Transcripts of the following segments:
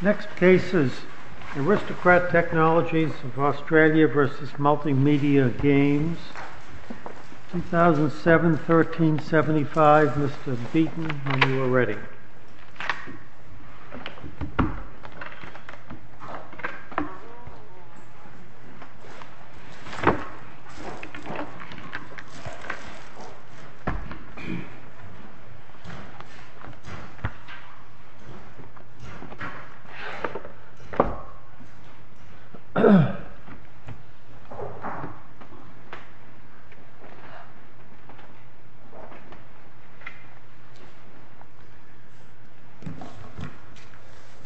Next case is Aristocrat Technologies v. Multimedia Games, 2007-1375. Mr. Beaton, when you are ready.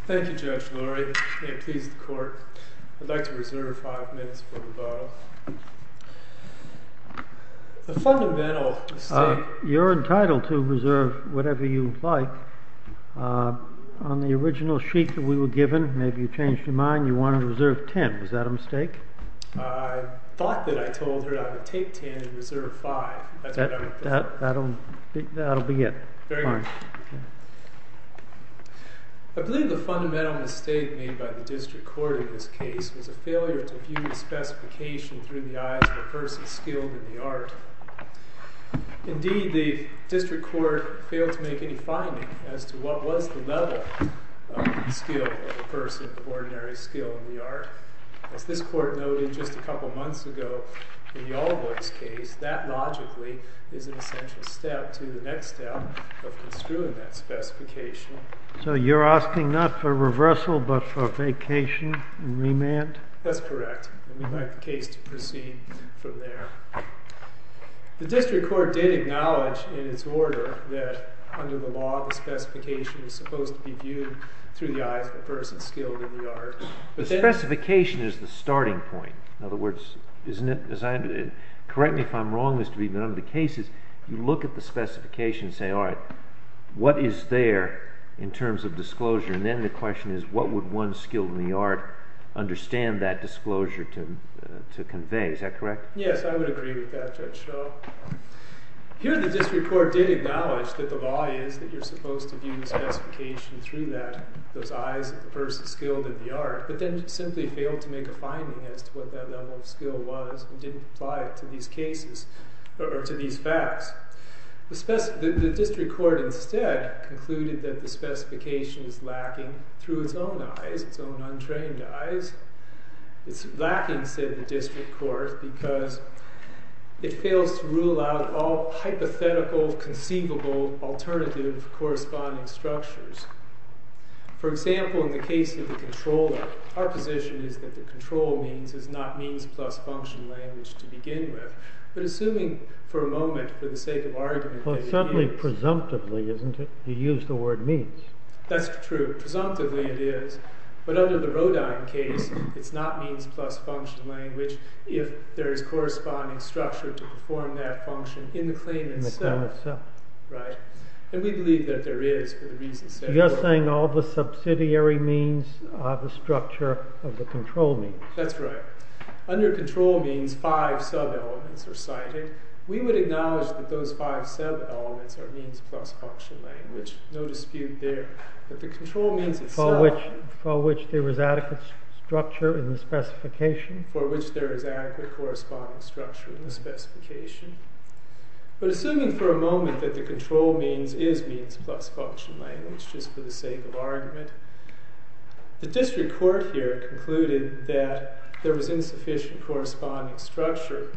Thank you Judge Lurie. May it please the Court. I'd like to reserve five minutes for rebuttal. You are entitled to reserve whatever you would like. On the original sheet that we were given, maybe you changed your mind, you wanted to reserve ten. Is that a mistake? I thought that I told her I would take ten and reserve five. That's what I would do. That will be it. I believe the fundamental mistake made by the District Court in this case was a failure to view the specification through the eyes of a person skilled in the art. Indeed, the District Court failed to make any finding as to what was the level of skill of a person of ordinary skill in the art. As this Court noted just a couple of months ago in the Allboys case, that logically is an essential step to the next step of construing that specification. So you're asking not for reversal but for vacation and remand? That's correct. And we'd like the case to proceed from there. The District Court did acknowledge in its order that under the law the specification was supposed to be viewed through the eyes of a person skilled in the art. The specification is the starting point. In other words, correct me if I'm wrong, but under the cases, you look at the specification and say, all right, what is there in terms of disclosure? And then the question is, what would one skilled in the art understand that disclosure to convey? Is that correct? Yes, I would agree with that, Judge Shaw. Here the District Court did acknowledge that the law is that you're supposed to view the specification through those eyes of the person skilled in the art, but then simply failed to make a finding as to what that level of skill was and didn't apply it to these cases or to these facts. The District Court instead concluded that the specification is lacking through its own eyes, its own untrained eyes. It's lacking, said the District Court, because it fails to rule out all hypothetical conceivable alternative corresponding structures. For example, in the case of the controller, our position is that the control means is not means plus function language to begin with. But assuming for a moment, for the sake of argument, that it is. Well, certainly presumptively, isn't it? You used the word means. That's true. Presumptively, it is. But under the Rodine case, it's not means plus function language if there is corresponding structure to perform that function in the claim itself. In the claim itself. Right. And we believe that there is for the reasons said. You're saying all the subsidiary means are the structure of the control means. That's right. Under control means, five sub-elements are cited. We would acknowledge that those five sub-elements are means plus function language. No dispute there. But the control means itself. For which there is adequate structure in the specification. For which there is adequate corresponding structure in the specification. But assuming for a moment that the control means is means plus function language, just for the sake of argument. The District Court here concluded that there was insufficient corresponding structure.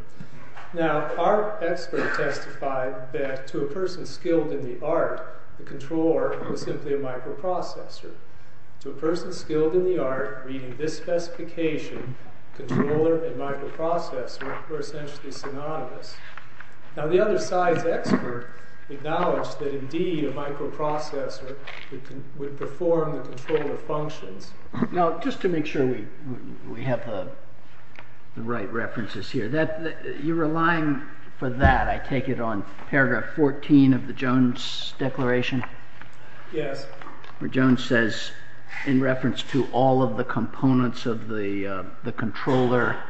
Now, our expert testified that to a person skilled in the art, the controller was simply a microprocessor. To a person skilled in the art, reading this specification, controller and microprocessor were essentially synonymous. Now, the other side's expert acknowledged that indeed a microprocessor would perform the controller functions. Now, just to make sure we have the right references here. You're relying for that, I take it, on paragraph 14 of the Jones declaration? Yes. Where Jones says, in reference to all of the components of the controller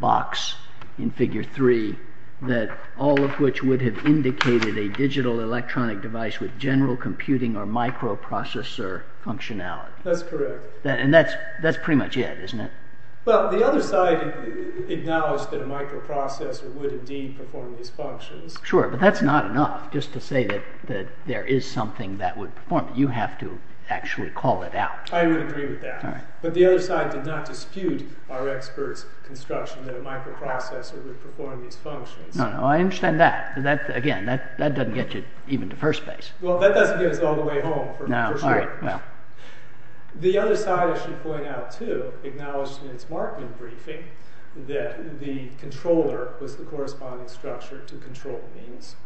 box in figure 3. That all of which would have indicated a digital electronic device with general computing or microprocessor functionality. That's correct. And that's pretty much it, isn't it? Well, the other side acknowledged that a microprocessor would indeed perform these functions. Sure, but that's not enough, just to say that there is something that would perform it. You have to actually call it out. I would agree with that. But the other side did not dispute our expert's construction that a microprocessor would perform these functions. No, no, I understand that. Again, that doesn't get you even to first base. Well, that doesn't get us all the way home, for sure. The other side, I should point out, too, acknowledged in its Markman briefing that the controller was the corresponding structure to control means.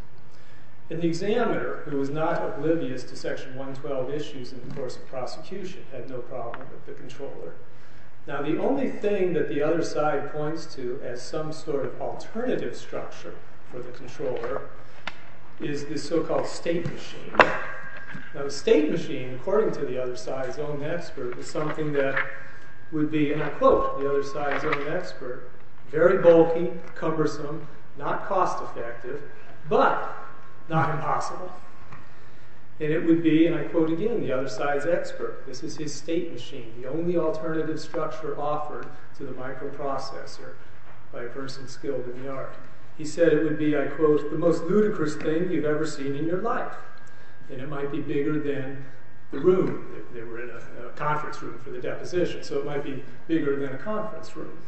And the examiner, who was not oblivious to section 112 issues in the course of prosecution, had no problem with the controller. Now, the only thing that the other side points to as some sort of alternative structure for the controller is this so-called state machine. Now, the state machine, according to the other side's own expert, is something that would be, and I quote the other side's own expert, very bulky, cumbersome, not cost effective, but not impossible. And it would be, and I quote again the other side's expert, this is his state machine, the only alternative structure offered to the microprocessor by a person skilled in the art. He said it would be, I quote, the most ludicrous thing you've ever seen in your life. And it might be bigger than the room, they were in a conference room for the deposition, so it might be bigger than a conference room.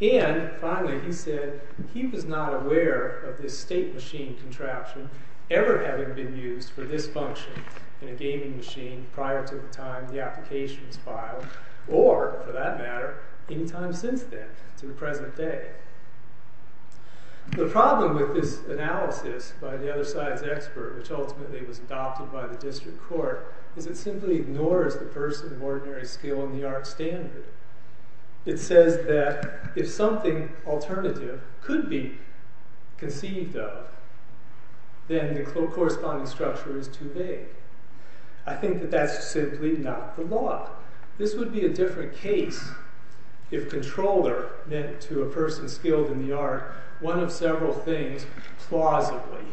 And, finally, he said he was not aware of this state machine contraption ever having been used for this function in a gaming machine prior to the time the application was filed, or, for that matter, any time since then, to the present day. The problem with this analysis by the other side's expert, which ultimately was adopted by the district court, is it simply ignores the person of ordinary skill in the art standard. It says that if something alternative could be conceived of, then the corresponding structure is too vague. I think that that's simply not the law. This would be a different case if controller meant to a person skilled in the art one of several things, plausibly.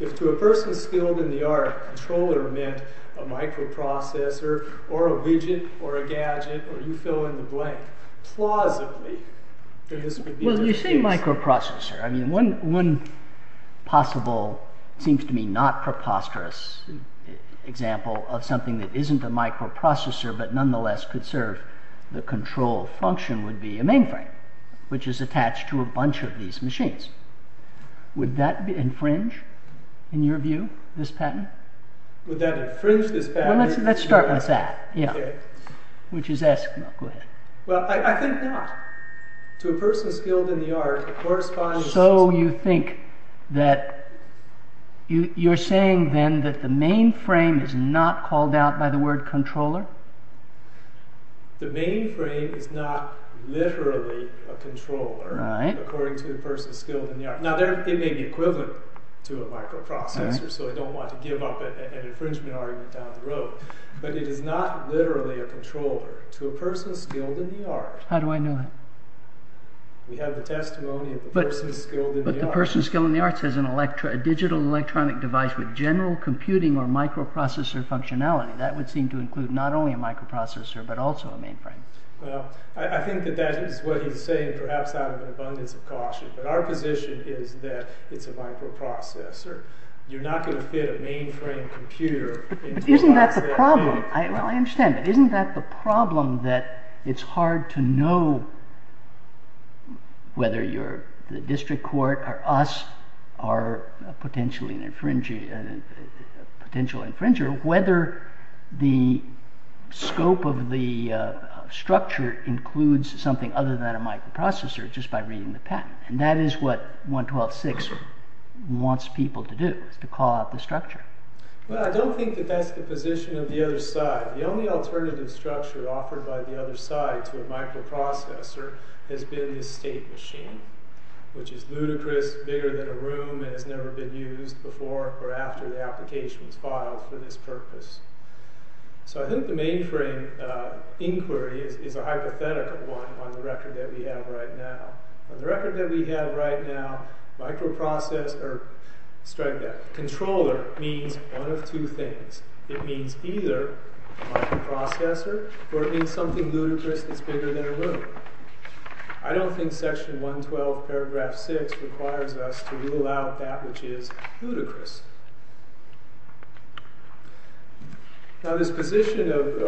If to a person skilled in the art, controller meant a microprocessor, or a widget, or a gadget, or you fill in the blank. Well, you say microprocessor. One possible, seems to me not preposterous, example of something that isn't a microprocessor but nonetheless could serve the control function would be a mainframe, which is attached to a bunch of these machines. Would that infringe, in your view, this patent? Would that infringe this patent? Well, let's start with that. Which is eskimo. Go ahead. Well, I think not. To a person skilled in the art, it corresponds... So you think that, you're saying then that the mainframe is not called out by the word controller? The mainframe is not literally a controller, according to a person skilled in the art. Now, it may be equivalent to a microprocessor, so I don't want to give up an infringement argument down the road. But it is not literally a controller. To a person skilled in the art... How do I know that? We have the testimony of a person skilled in the art. But the person skilled in the arts has a digital electronic device with general computing or microprocessor functionality. That would seem to include not only a microprocessor, but also a mainframe. Well, I think that that is what you're saying, perhaps out of an abundance of caution. But our position is that it's a microprocessor. You're not going to fit a mainframe computer... But isn't that the problem? Well, I understand, but isn't that the problem that it's hard to know whether the district court or us are a potential infringer, whether the scope of the structure includes something other than a microprocessor just by reading the patent. And that is what 112.6 wants people to do, to call out the structure. Well, I don't think that that's the position of the other side. The only alternative structure offered by the other side to a microprocessor has been the state machine, which is ludicrous, bigger than a room, and has never been used before or after the application was filed for this purpose. So I think the mainframe inquiry is a hypothetical one on the record that we have right now. On the record that we have right now, microprocessor, or strike that, controller means one of two things. It means either microprocessor or it means something ludicrous that's bigger than a room. I don't think section 112, paragraph 6 requires us to rule out that which is ludicrous. Now, this person of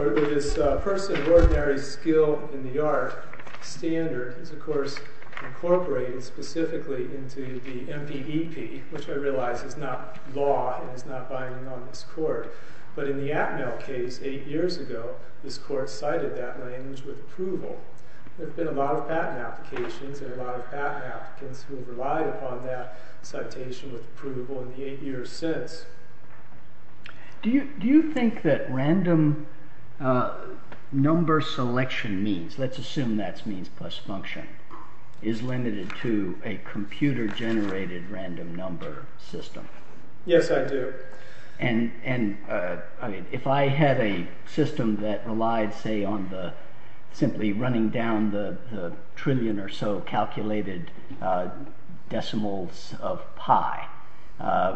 ordinary skill in the art standard is, of course, incorporated specifically into the MPEP, which I realize is not law and is not binding on this court. But in the Atmel case eight years ago, this court cited that language with approval. There have been a lot of patent applications and a lot of patent applicants who relied upon that citation with approval. In the eight years since. Do you think that random number selection means, let's assume that's means plus function, is limited to a computer generated random number system? Yes, I do. And if I had a system that relied, say, on simply running down the trillion or so calculated decimals of pi,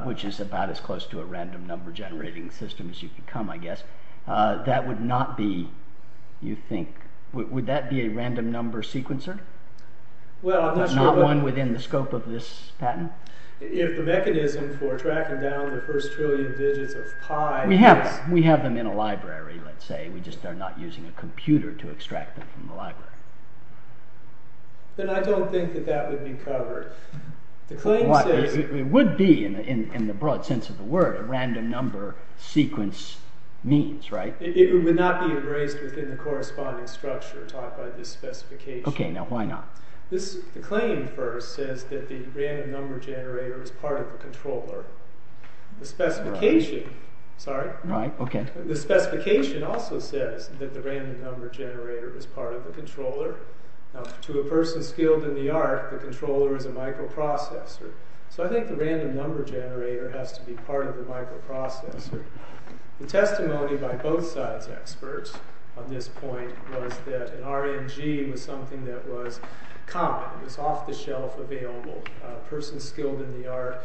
which is about as close to a random number generating system as you can come, I guess, that would not be, you think, would that be a random number sequencer? Not one within the scope of this patent? If the mechanism for tracking down the first trillion digits of pi... We have them in a library, let's say, we just are not using a computer to extract them from the library. Then I don't think that that would be covered. It would be, in the broad sense of the word, a random number sequence means, right? It would not be embraced within the corresponding structure taught by this specification. Okay, now why not? The claim first says that the random number generator is part of the controller. The specification also says that the random number generator is part of the controller. Now, to a person skilled in the art, the controller is a microprocessor. So I think the random number generator has to be part of the microprocessor. The testimony by both sides' experts on this point was that an RNG was something that was common. It was off-the-shelf available. A person skilled in the art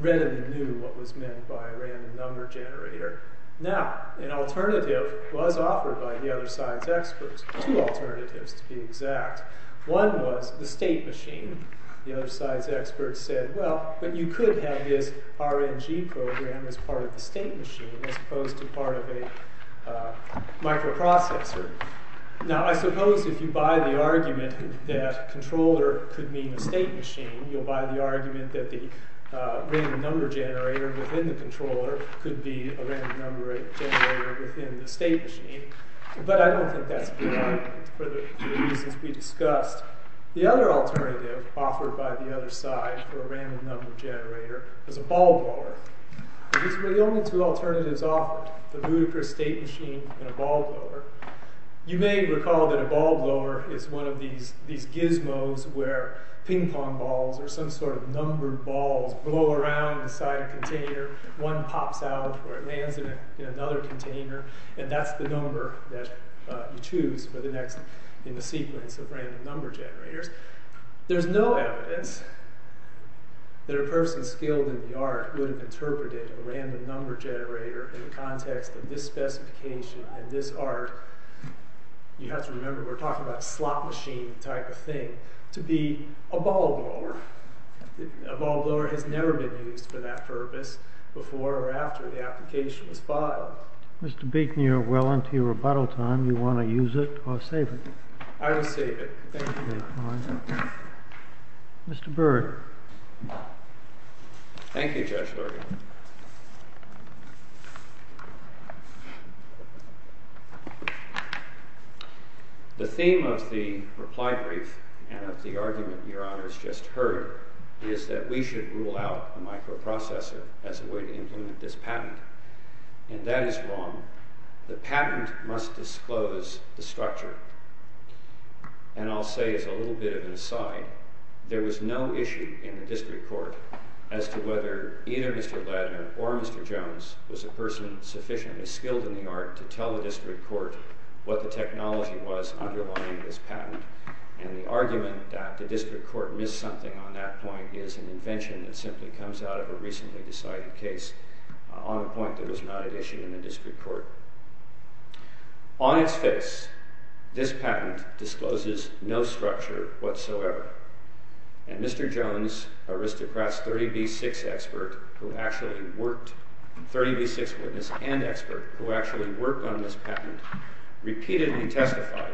readily knew what was meant by a random number generator. Now, an alternative was offered by the other side's experts. Two alternatives, to be exact. One was the state machine. The other side's experts said, well, but you could have this RNG program as part of the state machine, as opposed to part of a microprocessor. Now, I suppose if you buy the argument that controller could mean a state machine, you'll buy the argument that the random number generator within the controller could be a random number generator within the state machine. But I don't think that's the point for the reasons we discussed. The other alternative offered by the other side for a random number generator is a ball blower. These were the only two alternatives offered, the Ludicrous state machine and a ball blower. You may recall that a ball blower is one of these gizmos where ping pong balls or some sort of numbered balls blow around inside a container. One pops out, or it lands in another container, and that's the number that you choose in the sequence of random number generators. There's no evidence that a person skilled in the art would have interpreted a random number generator in the context of this specification and this art. You have to remember we're talking about a slot machine type of thing, to be a ball blower. A ball blower has never been used for that purpose before or after the application was filed. Mr. Beekner, we're well into your rebuttal time. Do you want to use it or save it? I will save it. Thank you. Mr. Byrd. Thank you, Judge Lurie. The theme of the reply brief and of the argument Your Honor has just heard is that we should rule out the microprocessor as a way to implement this patent. And that is wrong. The patent must disclose the structure. And I'll say as a little bit of an aside, there was no issue in the district court as to whether either Mr. Ladner or Mr. Jones was a person sufficiently skilled in the art to tell the district court what the technology was underlying this patent. And the argument that the district court missed something on that point is an invention that simply comes out of a recently decided case on a point that was not an issue in the district court. On its face, this patent discloses no structure whatsoever. And Mr. Jones, aristocrat's 30B6 expert who actually worked, 30B6 witness and expert who actually worked on this patent, repeatedly testified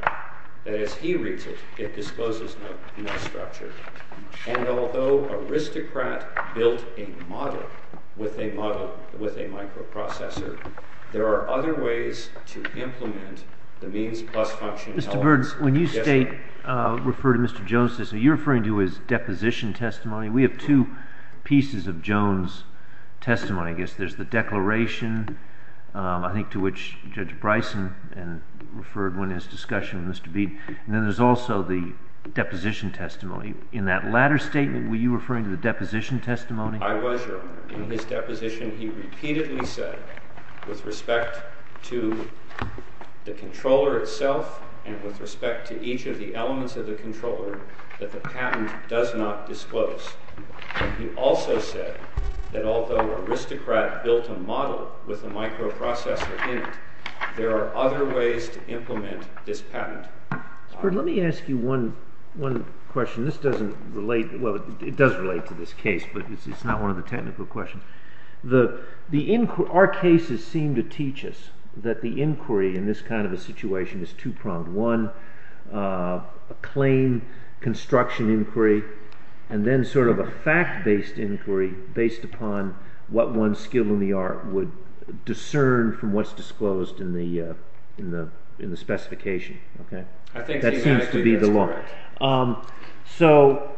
that as he reads it, it discloses no structure. And although aristocrat built a model with a microprocessor, there are other ways to implement the means plus function. Mr. Burns, when you refer to Mr. Jones' testimony, are you referring to his deposition testimony? We have two pieces of Jones' testimony. I guess there's the declaration, I think to which Judge Bryson referred when in his discussion with Mr. Bede. And then there's also the deposition testimony. In that latter statement, were you referring to the deposition testimony? I was, Your Honor. In his deposition, he repeatedly said with respect to the controller itself and with respect to each of the elements of the controller that the patent does not disclose. He also said that although aristocrat built a model with a microprocessor in it, there are other ways to implement this patent. Mr. Burns, let me ask you one question. This doesn't relate. Well, it does relate to this case, but it's not one of the technical questions. Our cases seem to teach us that the inquiry in this kind of a situation is two-pronged. One, a claim construction inquiry, and then sort of a fact-based inquiry based upon what one's skill in the art would discern from what's disclosed in the specification. That seems to be the law. So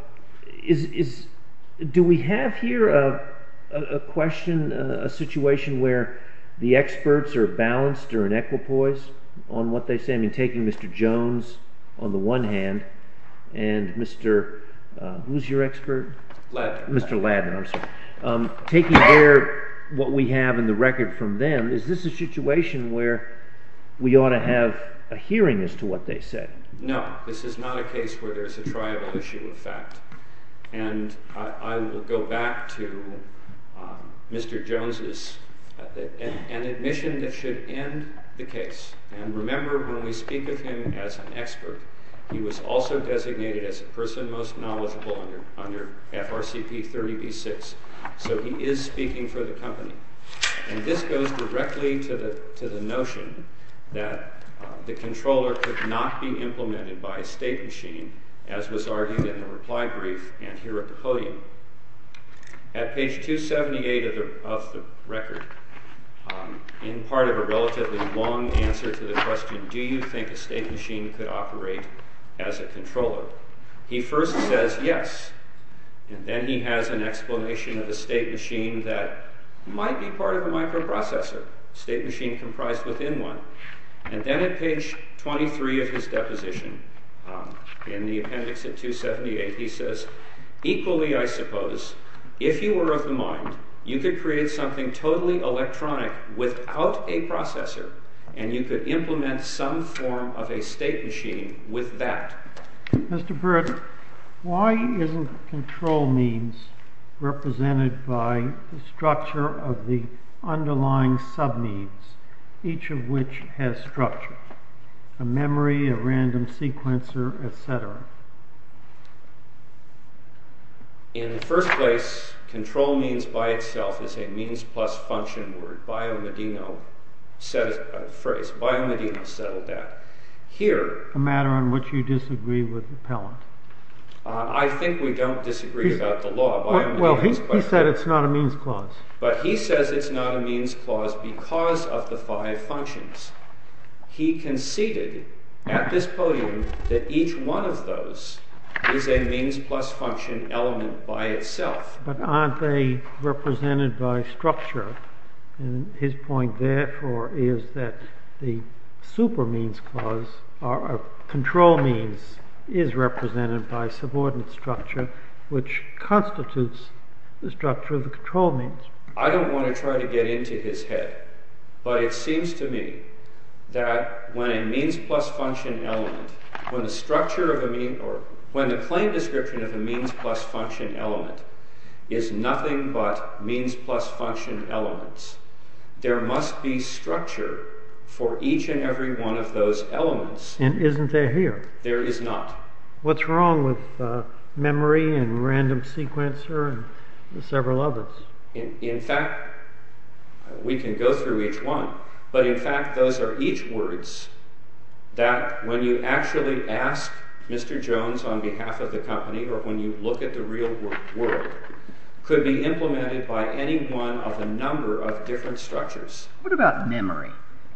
do we have here a question, a situation where the experts are balanced or in equipoise on what they say? I mean, taking Mr. Jones on the one hand and Mr.—who's your expert? Mr. Ladman, I'm sorry. Taking what we have in the record from them, is this a situation where we ought to have a hearing as to what they said? No, this is not a case where there's a triable issue of fact. And I will go back to Mr. Jones's—an admission that should end the case. And remember, when we speak of him as an expert, he was also designated as a person most knowledgeable under FRCP 30b-6. So he is speaking for the company. And this goes directly to the notion that the controller could not be implemented by a state machine, as was argued in the reply brief and here at the podium. At page 278 of the record, in part of a relatively long answer to the question, do you think a state machine could operate as a controller? He first says yes. And then he has an explanation of a state machine that might be part of a microprocessor, a state machine comprised within one. And then at page 23 of his deposition, in the appendix at 278, he says, equally, I suppose, if you were of the mind, you could create something totally electronic without a processor, and you could implement some form of a state machine with that. Mr. Britt, why isn't control means represented by the structure of the underlying sub-needs, each of which has structure? A memory, a random sequencer, etc. In the first place, control means by itself is a means plus function word. Biomedino said a phrase. Biomedino settled that. A matter on which you disagree with the appellant. I think we don't disagree about the law. He said it's not a means clause. But he says it's not a means clause because of the five functions. He conceded at this podium that each one of those is a means plus function element by itself. But aren't they represented by structure? His point, therefore, is that the super means clause, or control means, is represented by subordinate structure, which constitutes the structure of the control means. I don't want to try to get into his head, but it seems to me that when a means plus function element, when the claim description of a means plus function element is nothing but means plus function elements, there must be structure for each and every one of those elements. And isn't there here? There is not. What's wrong with memory and random sequencer and several others? In fact, we can go through each one, but in fact those are each words that when you actually ask Mr. Jones on behalf of the company or when you look at the real world, could be implemented by any one of a number of different structures. What about memory?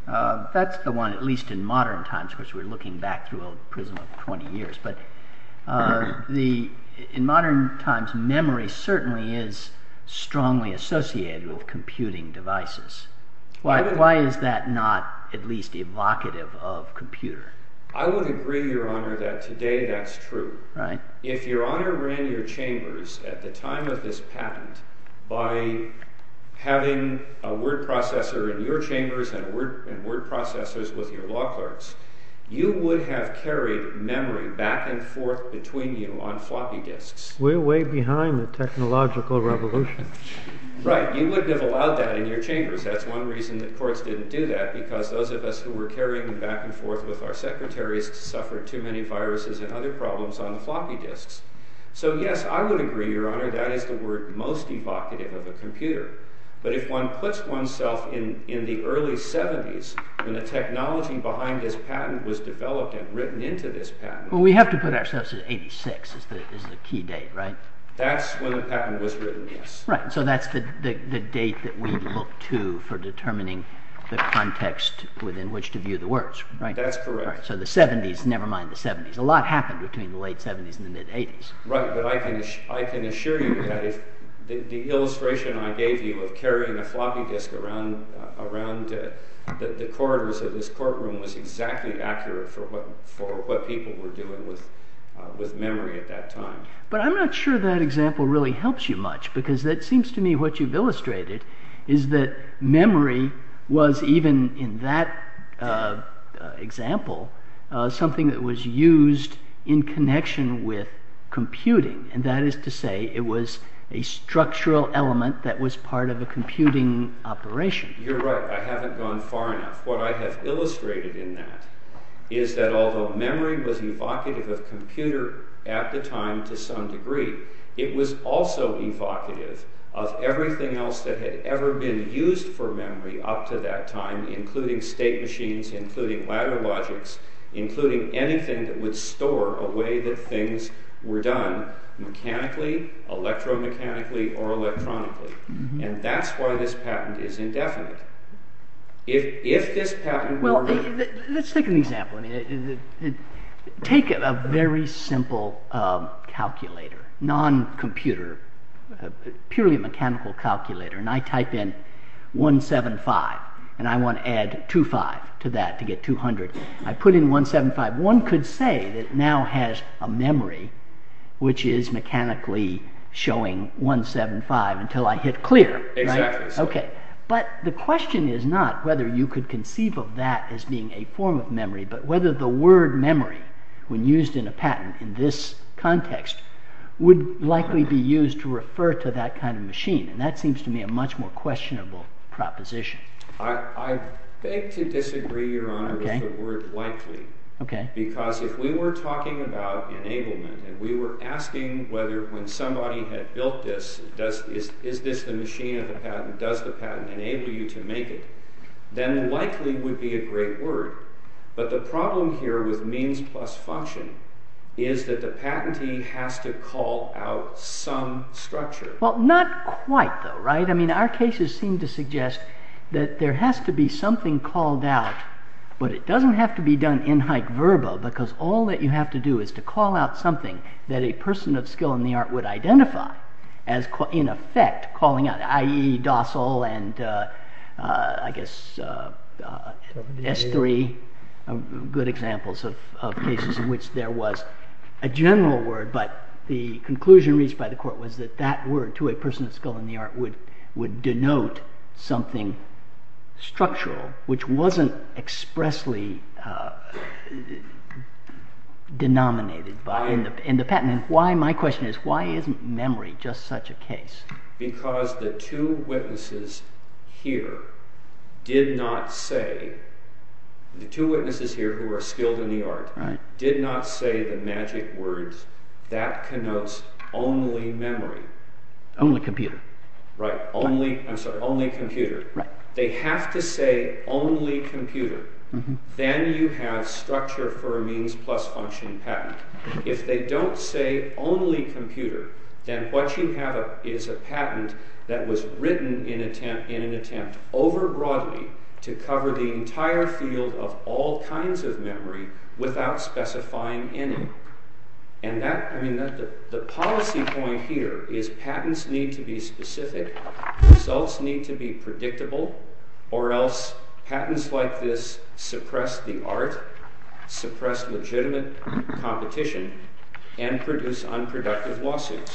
That's the one, at least in modern times, which we're looking back through a prism of 20 years. In modern times, memory certainly is strongly associated with computing devices. Why is that not at least evocative of computer? I would agree, Your Honor, that today that's true. If Your Honor ran your chambers at the time of this patent by having a word processor in your chambers and word processors with your law clerks, you would have carried memory back and forth between you on floppy disks. We're way behind the technological revolution. Right. You wouldn't have allowed that in your chambers. That's one reason that courts didn't do that, because those of us who were carrying it back and forth with our secretaries suffered too many viruses and other problems on floppy disks. So yes, I would agree, Your Honor, that is the word most evocative of a computer. But if one puts oneself in the early 70s, when the technology behind this patent was developed and written into this patent... Well, we have to put ourselves in 86, is the key date, right? That's when the patent was written, yes. Right. So that's the date that we look to for determining the context within which to view the words, right? That's correct. So the 70s, never mind the 70s. A lot happened between the late 70s and the mid-80s. Right, but I can assure you that the illustration I gave you of carrying a floppy disk around the corridors of this courtroom was exactly accurate for what people were doing with memory at that time. But I'm not sure that example really helps you much, because it seems to me what you've illustrated is that memory was even in that example something that was used in connection with computing. And that is to say it was a structural element that was part of a computing operation. You're right. I haven't gone far enough. What I have illustrated in that is that although memory was evocative of computer at the time to some degree, it was also evocative of everything else that had ever been used for memory up to that time, including state machines, including ladder logics, including anything that would store a way that things were done mechanically, electromechanically, or electronically. And that's why this patent is indefinite. If this patent were... Well, let's take an example. Take a very simple calculator, non-computer, purely mechanical calculator, and I type in 175, and I want to add 25 to that to get 200. I put in 175. One could say that now has a memory which is mechanically showing 175 until I hit clear. Exactly. But the question is not whether you could conceive of that as being a form of memory, but whether the word memory, when used in a patent in this context, would likely be used to refer to that kind of machine. And that seems to me a much more questionable proposition. I beg to disagree, Your Honor, with the word likely. Because if we were talking about enablement, and we were asking whether when somebody had built this, is this the machine of the patent, does the patent enable you to make it, then likely would be a great word. But the problem here with means plus function is that the patentee has to call out some structure. Well, not quite, though, right? I mean, our cases seem to suggest that there has to be something called out, but it doesn't have to be done in hype verbo, because all that you have to do is to call out something that a person of skill in the art would identify as in effect calling out, i.e., docile, and I guess S3 are good examples of cases in which there was a general word, but the conclusion reached by the court was that that word to a person of skill in the art would denote something structural, which wasn't expressly denominated in the patent. My question is, why isn't memory just such a case? Because the two witnesses here did not say, the two witnesses here who are skilled in the art, did not say the magic words that connotes only memory. Only computer. Right, only computer. They have to say only computer. Then you have structure for a means plus function patent. If they don't say only computer, then what you have is a patent that was written in an attempt over broadly to cover the entire field of all kinds of memory without specifying any. The policy point here is patents need to be specific, results need to be predictable, or else patents like this suppress the art, suppress legitimate competition, and produce unproductive lawsuits.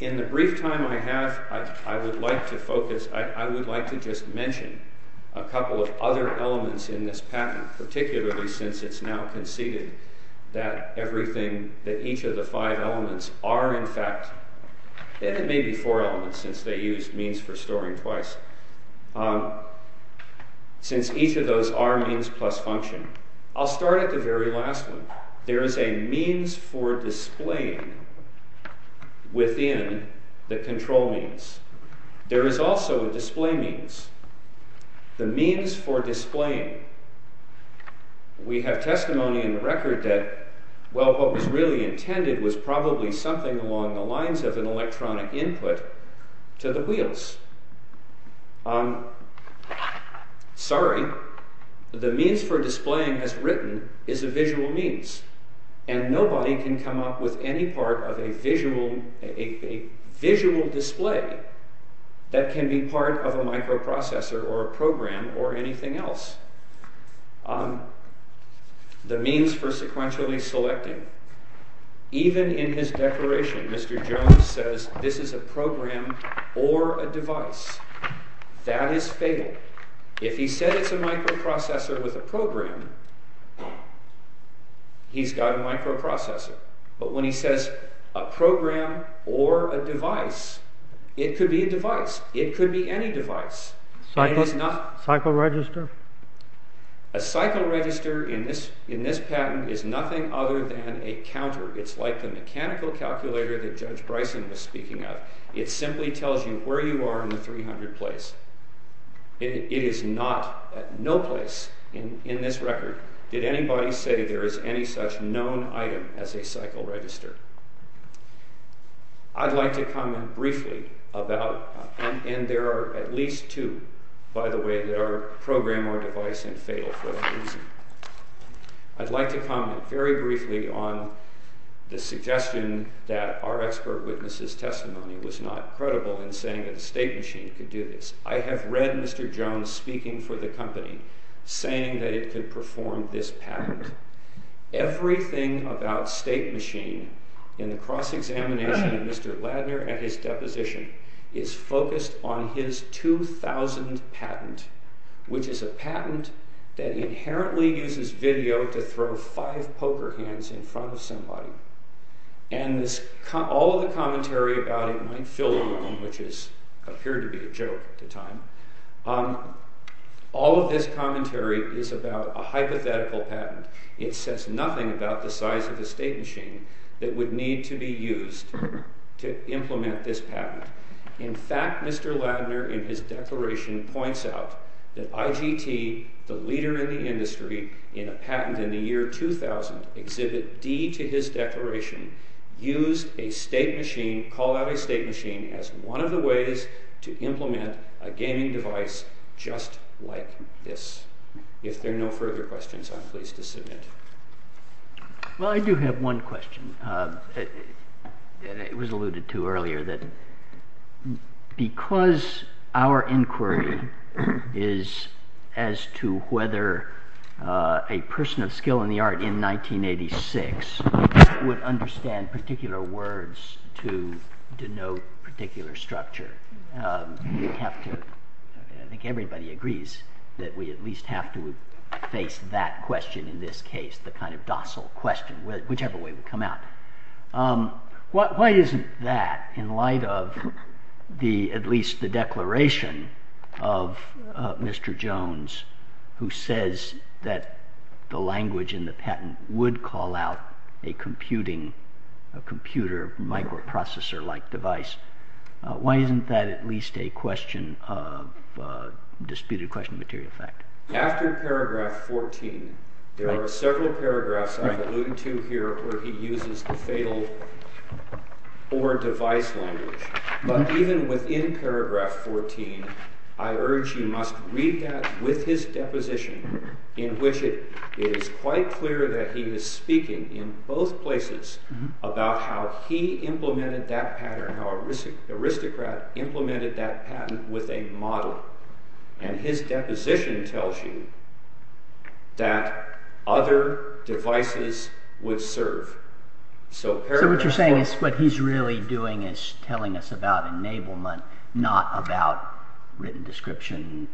In the brief time I have, I would like to focus, I would like to just mention a couple of other elements in this patent, particularly since it's now conceded that everything, that each of the five elements are in fact, and it may be four elements since they used means for storing twice. Since each of those are means plus function. I'll start at the very last one. There is a means for displaying within the control means. There is also a display means. The means for displaying. We have testimony in the record that well, what was really intended was probably something along the lines of an electronic input to the wheels. Sorry, the means for displaying as written is a visual means, and nobody can come up with any part of a visual display that can be part of a microprocessor or a program or anything else. The means for sequentially selecting. Even in his declaration, Mr. Jones says this is a program or a device. That is fatal. If he said it's a microprocessor with a program, he's got a microprocessor. But when he says a program or a device, it could be a device. It could be any device. A cycle register? A cycle register in this patent is nothing other than a counter. It's like the mechanical calculator that Judge Bryson was speaking of. It simply tells you where you are in the 300 place. It is not at no place in this record did anybody say there is any such known item as a cycle register. I'd like to comment briefly about, and there are at least two, by the way, that are program or device and fatal for that reason. I'd like to comment very briefly on the suggestion that our expert witness' testimony was not credible in saying that a state machine could do this. I have read Mr. Jones speaking for the company, saying that it could perform this patent. Everything about state machine in the cross-examination of Mr. Ladner and his deposition is focused on his 2000 patent, which is a patent that inherently uses video to throw five poker hands in front of somebody. And all of the commentary about it might fill a room, which appeared to be a joke at the time. All of this commentary is about a hypothetical patent. It says nothing about the size of a state machine that would need to be used to implement this patent. In fact, Mr. Ladner in his declaration points out that IGT, the leader in the industry, in a patent in the year 2000, exhibit D to his declaration, used a state machine, called out a state machine, as one of the ways to implement a gaming device just like this. If there are no further questions, I'm pleased to submit. Well, I do have one question. It was alluded to earlier, that because our inquiry is as to whether a person of skill in the art in 1986 would understand particular words to denote particular structure, I think everybody agrees that we at least have to face that question in this case, the kind of docile question, whichever way would come out. Why isn't that, in light of at least the declaration of Mr. Jones, who says that the language in the patent would call out a computer microprocessor-like device, why isn't that at least a question of disputed question of material fact? After paragraph 14, there are several paragraphs I've alluded to here, where he uses the fatal or device language. But even within paragraph 14, I urge you must read that with his deposition, in which it is quite clear that he is speaking in both places about how he implemented that pattern, how Aristocrat implemented that patent with a model. And his deposition tells you that other devices would serve. So what you're saying is what he's really doing is telling us about enablement, not about written description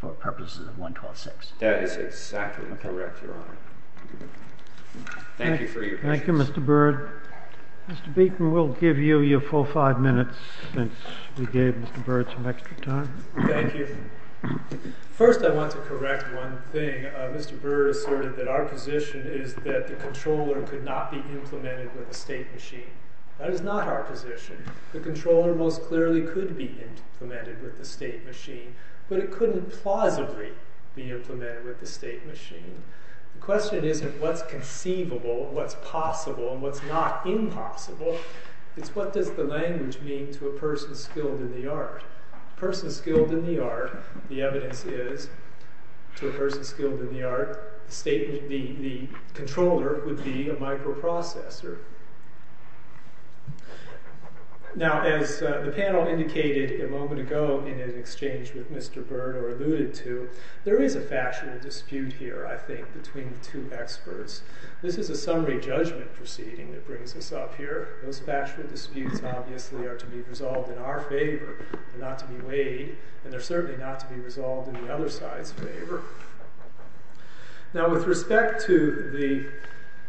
for purposes of 1126. That is exactly correct, Your Honor. Thank you for your patience. Thank you, Mr. Bird. Mr. Beaton, we'll give you your full five minutes, since we gave Mr. Bird some extra time. Thank you. First, I want to correct one thing. Mr. Bird asserted that our position is that the controller could not be implemented with a state machine. That is not our position. The controller most clearly could be implemented with a state machine, but it couldn't plausibly be implemented with a state machine. The question isn't what's conceivable, what's possible, and what's not impossible. It's what does the language mean to a person skilled in the art? A person skilled in the art, the evidence is, to a person skilled in the art, the controller would be a microprocessor. Now, as the panel indicated a moment ago in an exchange with Mr. Bird, or alluded to, there is a factual dispute here, I think, between the two experts. This is a summary judgment proceeding that brings us up here. Those factual disputes, obviously, are to be resolved in our favor, not to be weighed, and they're certainly not to be resolved in the other side's favor. Now, with respect to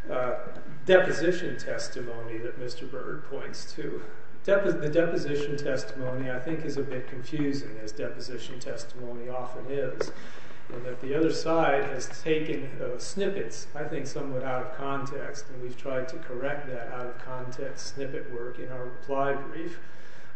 the deposition testimony that Mr. Bird points to, the deposition testimony, I think, is a bit confusing, as deposition testimony often is, in that the other side has taken those snippets, I think, somewhat out of context, and we've tried to correct that out-of-context snippet work in our reply brief.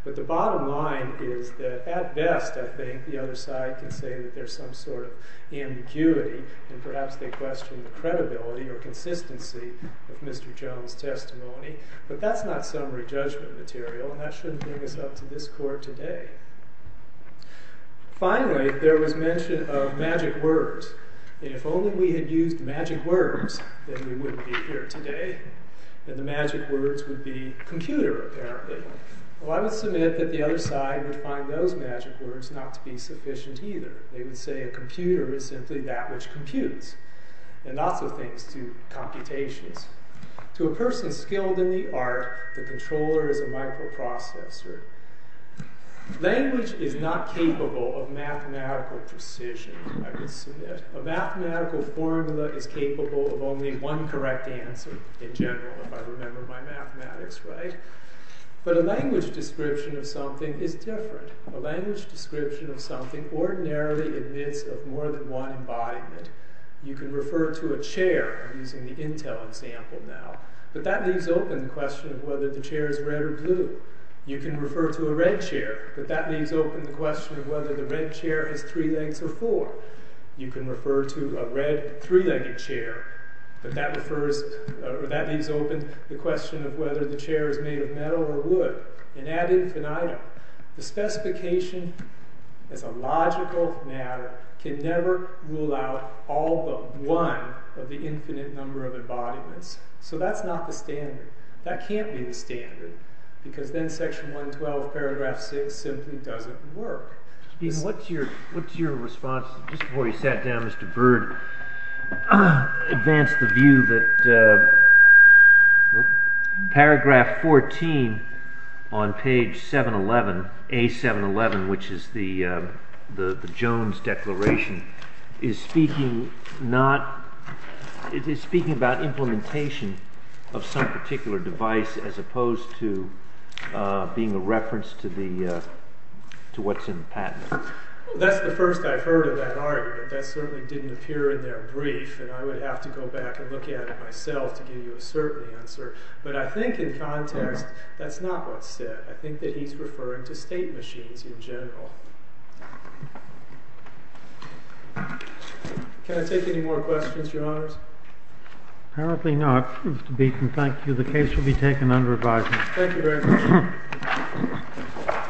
But the bottom line is that, at best, I think, the other side can say that there's some sort of ambiguity, and perhaps they question the credibility or consistency of Mr. Jones' testimony, but that's not summary judgment material, and that shouldn't bring us up to this court today. Finally, there was mention of magic words, and if only we had used magic words, then we wouldn't be here today, and the magic words would be computer, apparently. Well, I would submit that the other side would find those magic words not to be sufficient either. They would say a computer is simply that which computes, and not so things to computations. To a person skilled in the art, the controller is a microprocessor. Language is not capable of mathematical precision, I would submit. A mathematical formula is capable of only one correct answer in general, if I remember my mathematics right, but a language description of something is different. A language description of something ordinarily admits of more than one embodiment. You can refer to a chair, using the Intel example now, but that leaves open the question of whether the chair is red or blue. You can refer to a red chair, but that leaves open the question of whether the red chair is three legs or four. You can refer to a red three-legged chair, but that leaves open the question of whether the chair is made of metal or wood. And ad infinitum, the specification as a logical matter can never rule out all but one of the infinite number of embodiments. So that's not the standard. That can't be the standard, because then section 112 paragraph 6 simply doesn't work. What's your response, just before you sat down Mr. Bird, advance the view that paragraph 14 on page 711, A711, which is the Jones Declaration, is speaking not, it is speaking about implementation of some particular device as opposed to being a reference to what's in the patent. That's the first I've heard of that argument. That certainly didn't appear in their brief, and I would have to go back and look at it myself to give you a certain answer. But I think in context, that's not what's said. I think that he's referring to state machines in general. Can I take any more questions, your honors? Apparently not. Mr. Beaton, thank you. The case will be taken under advisement. Thank you very much.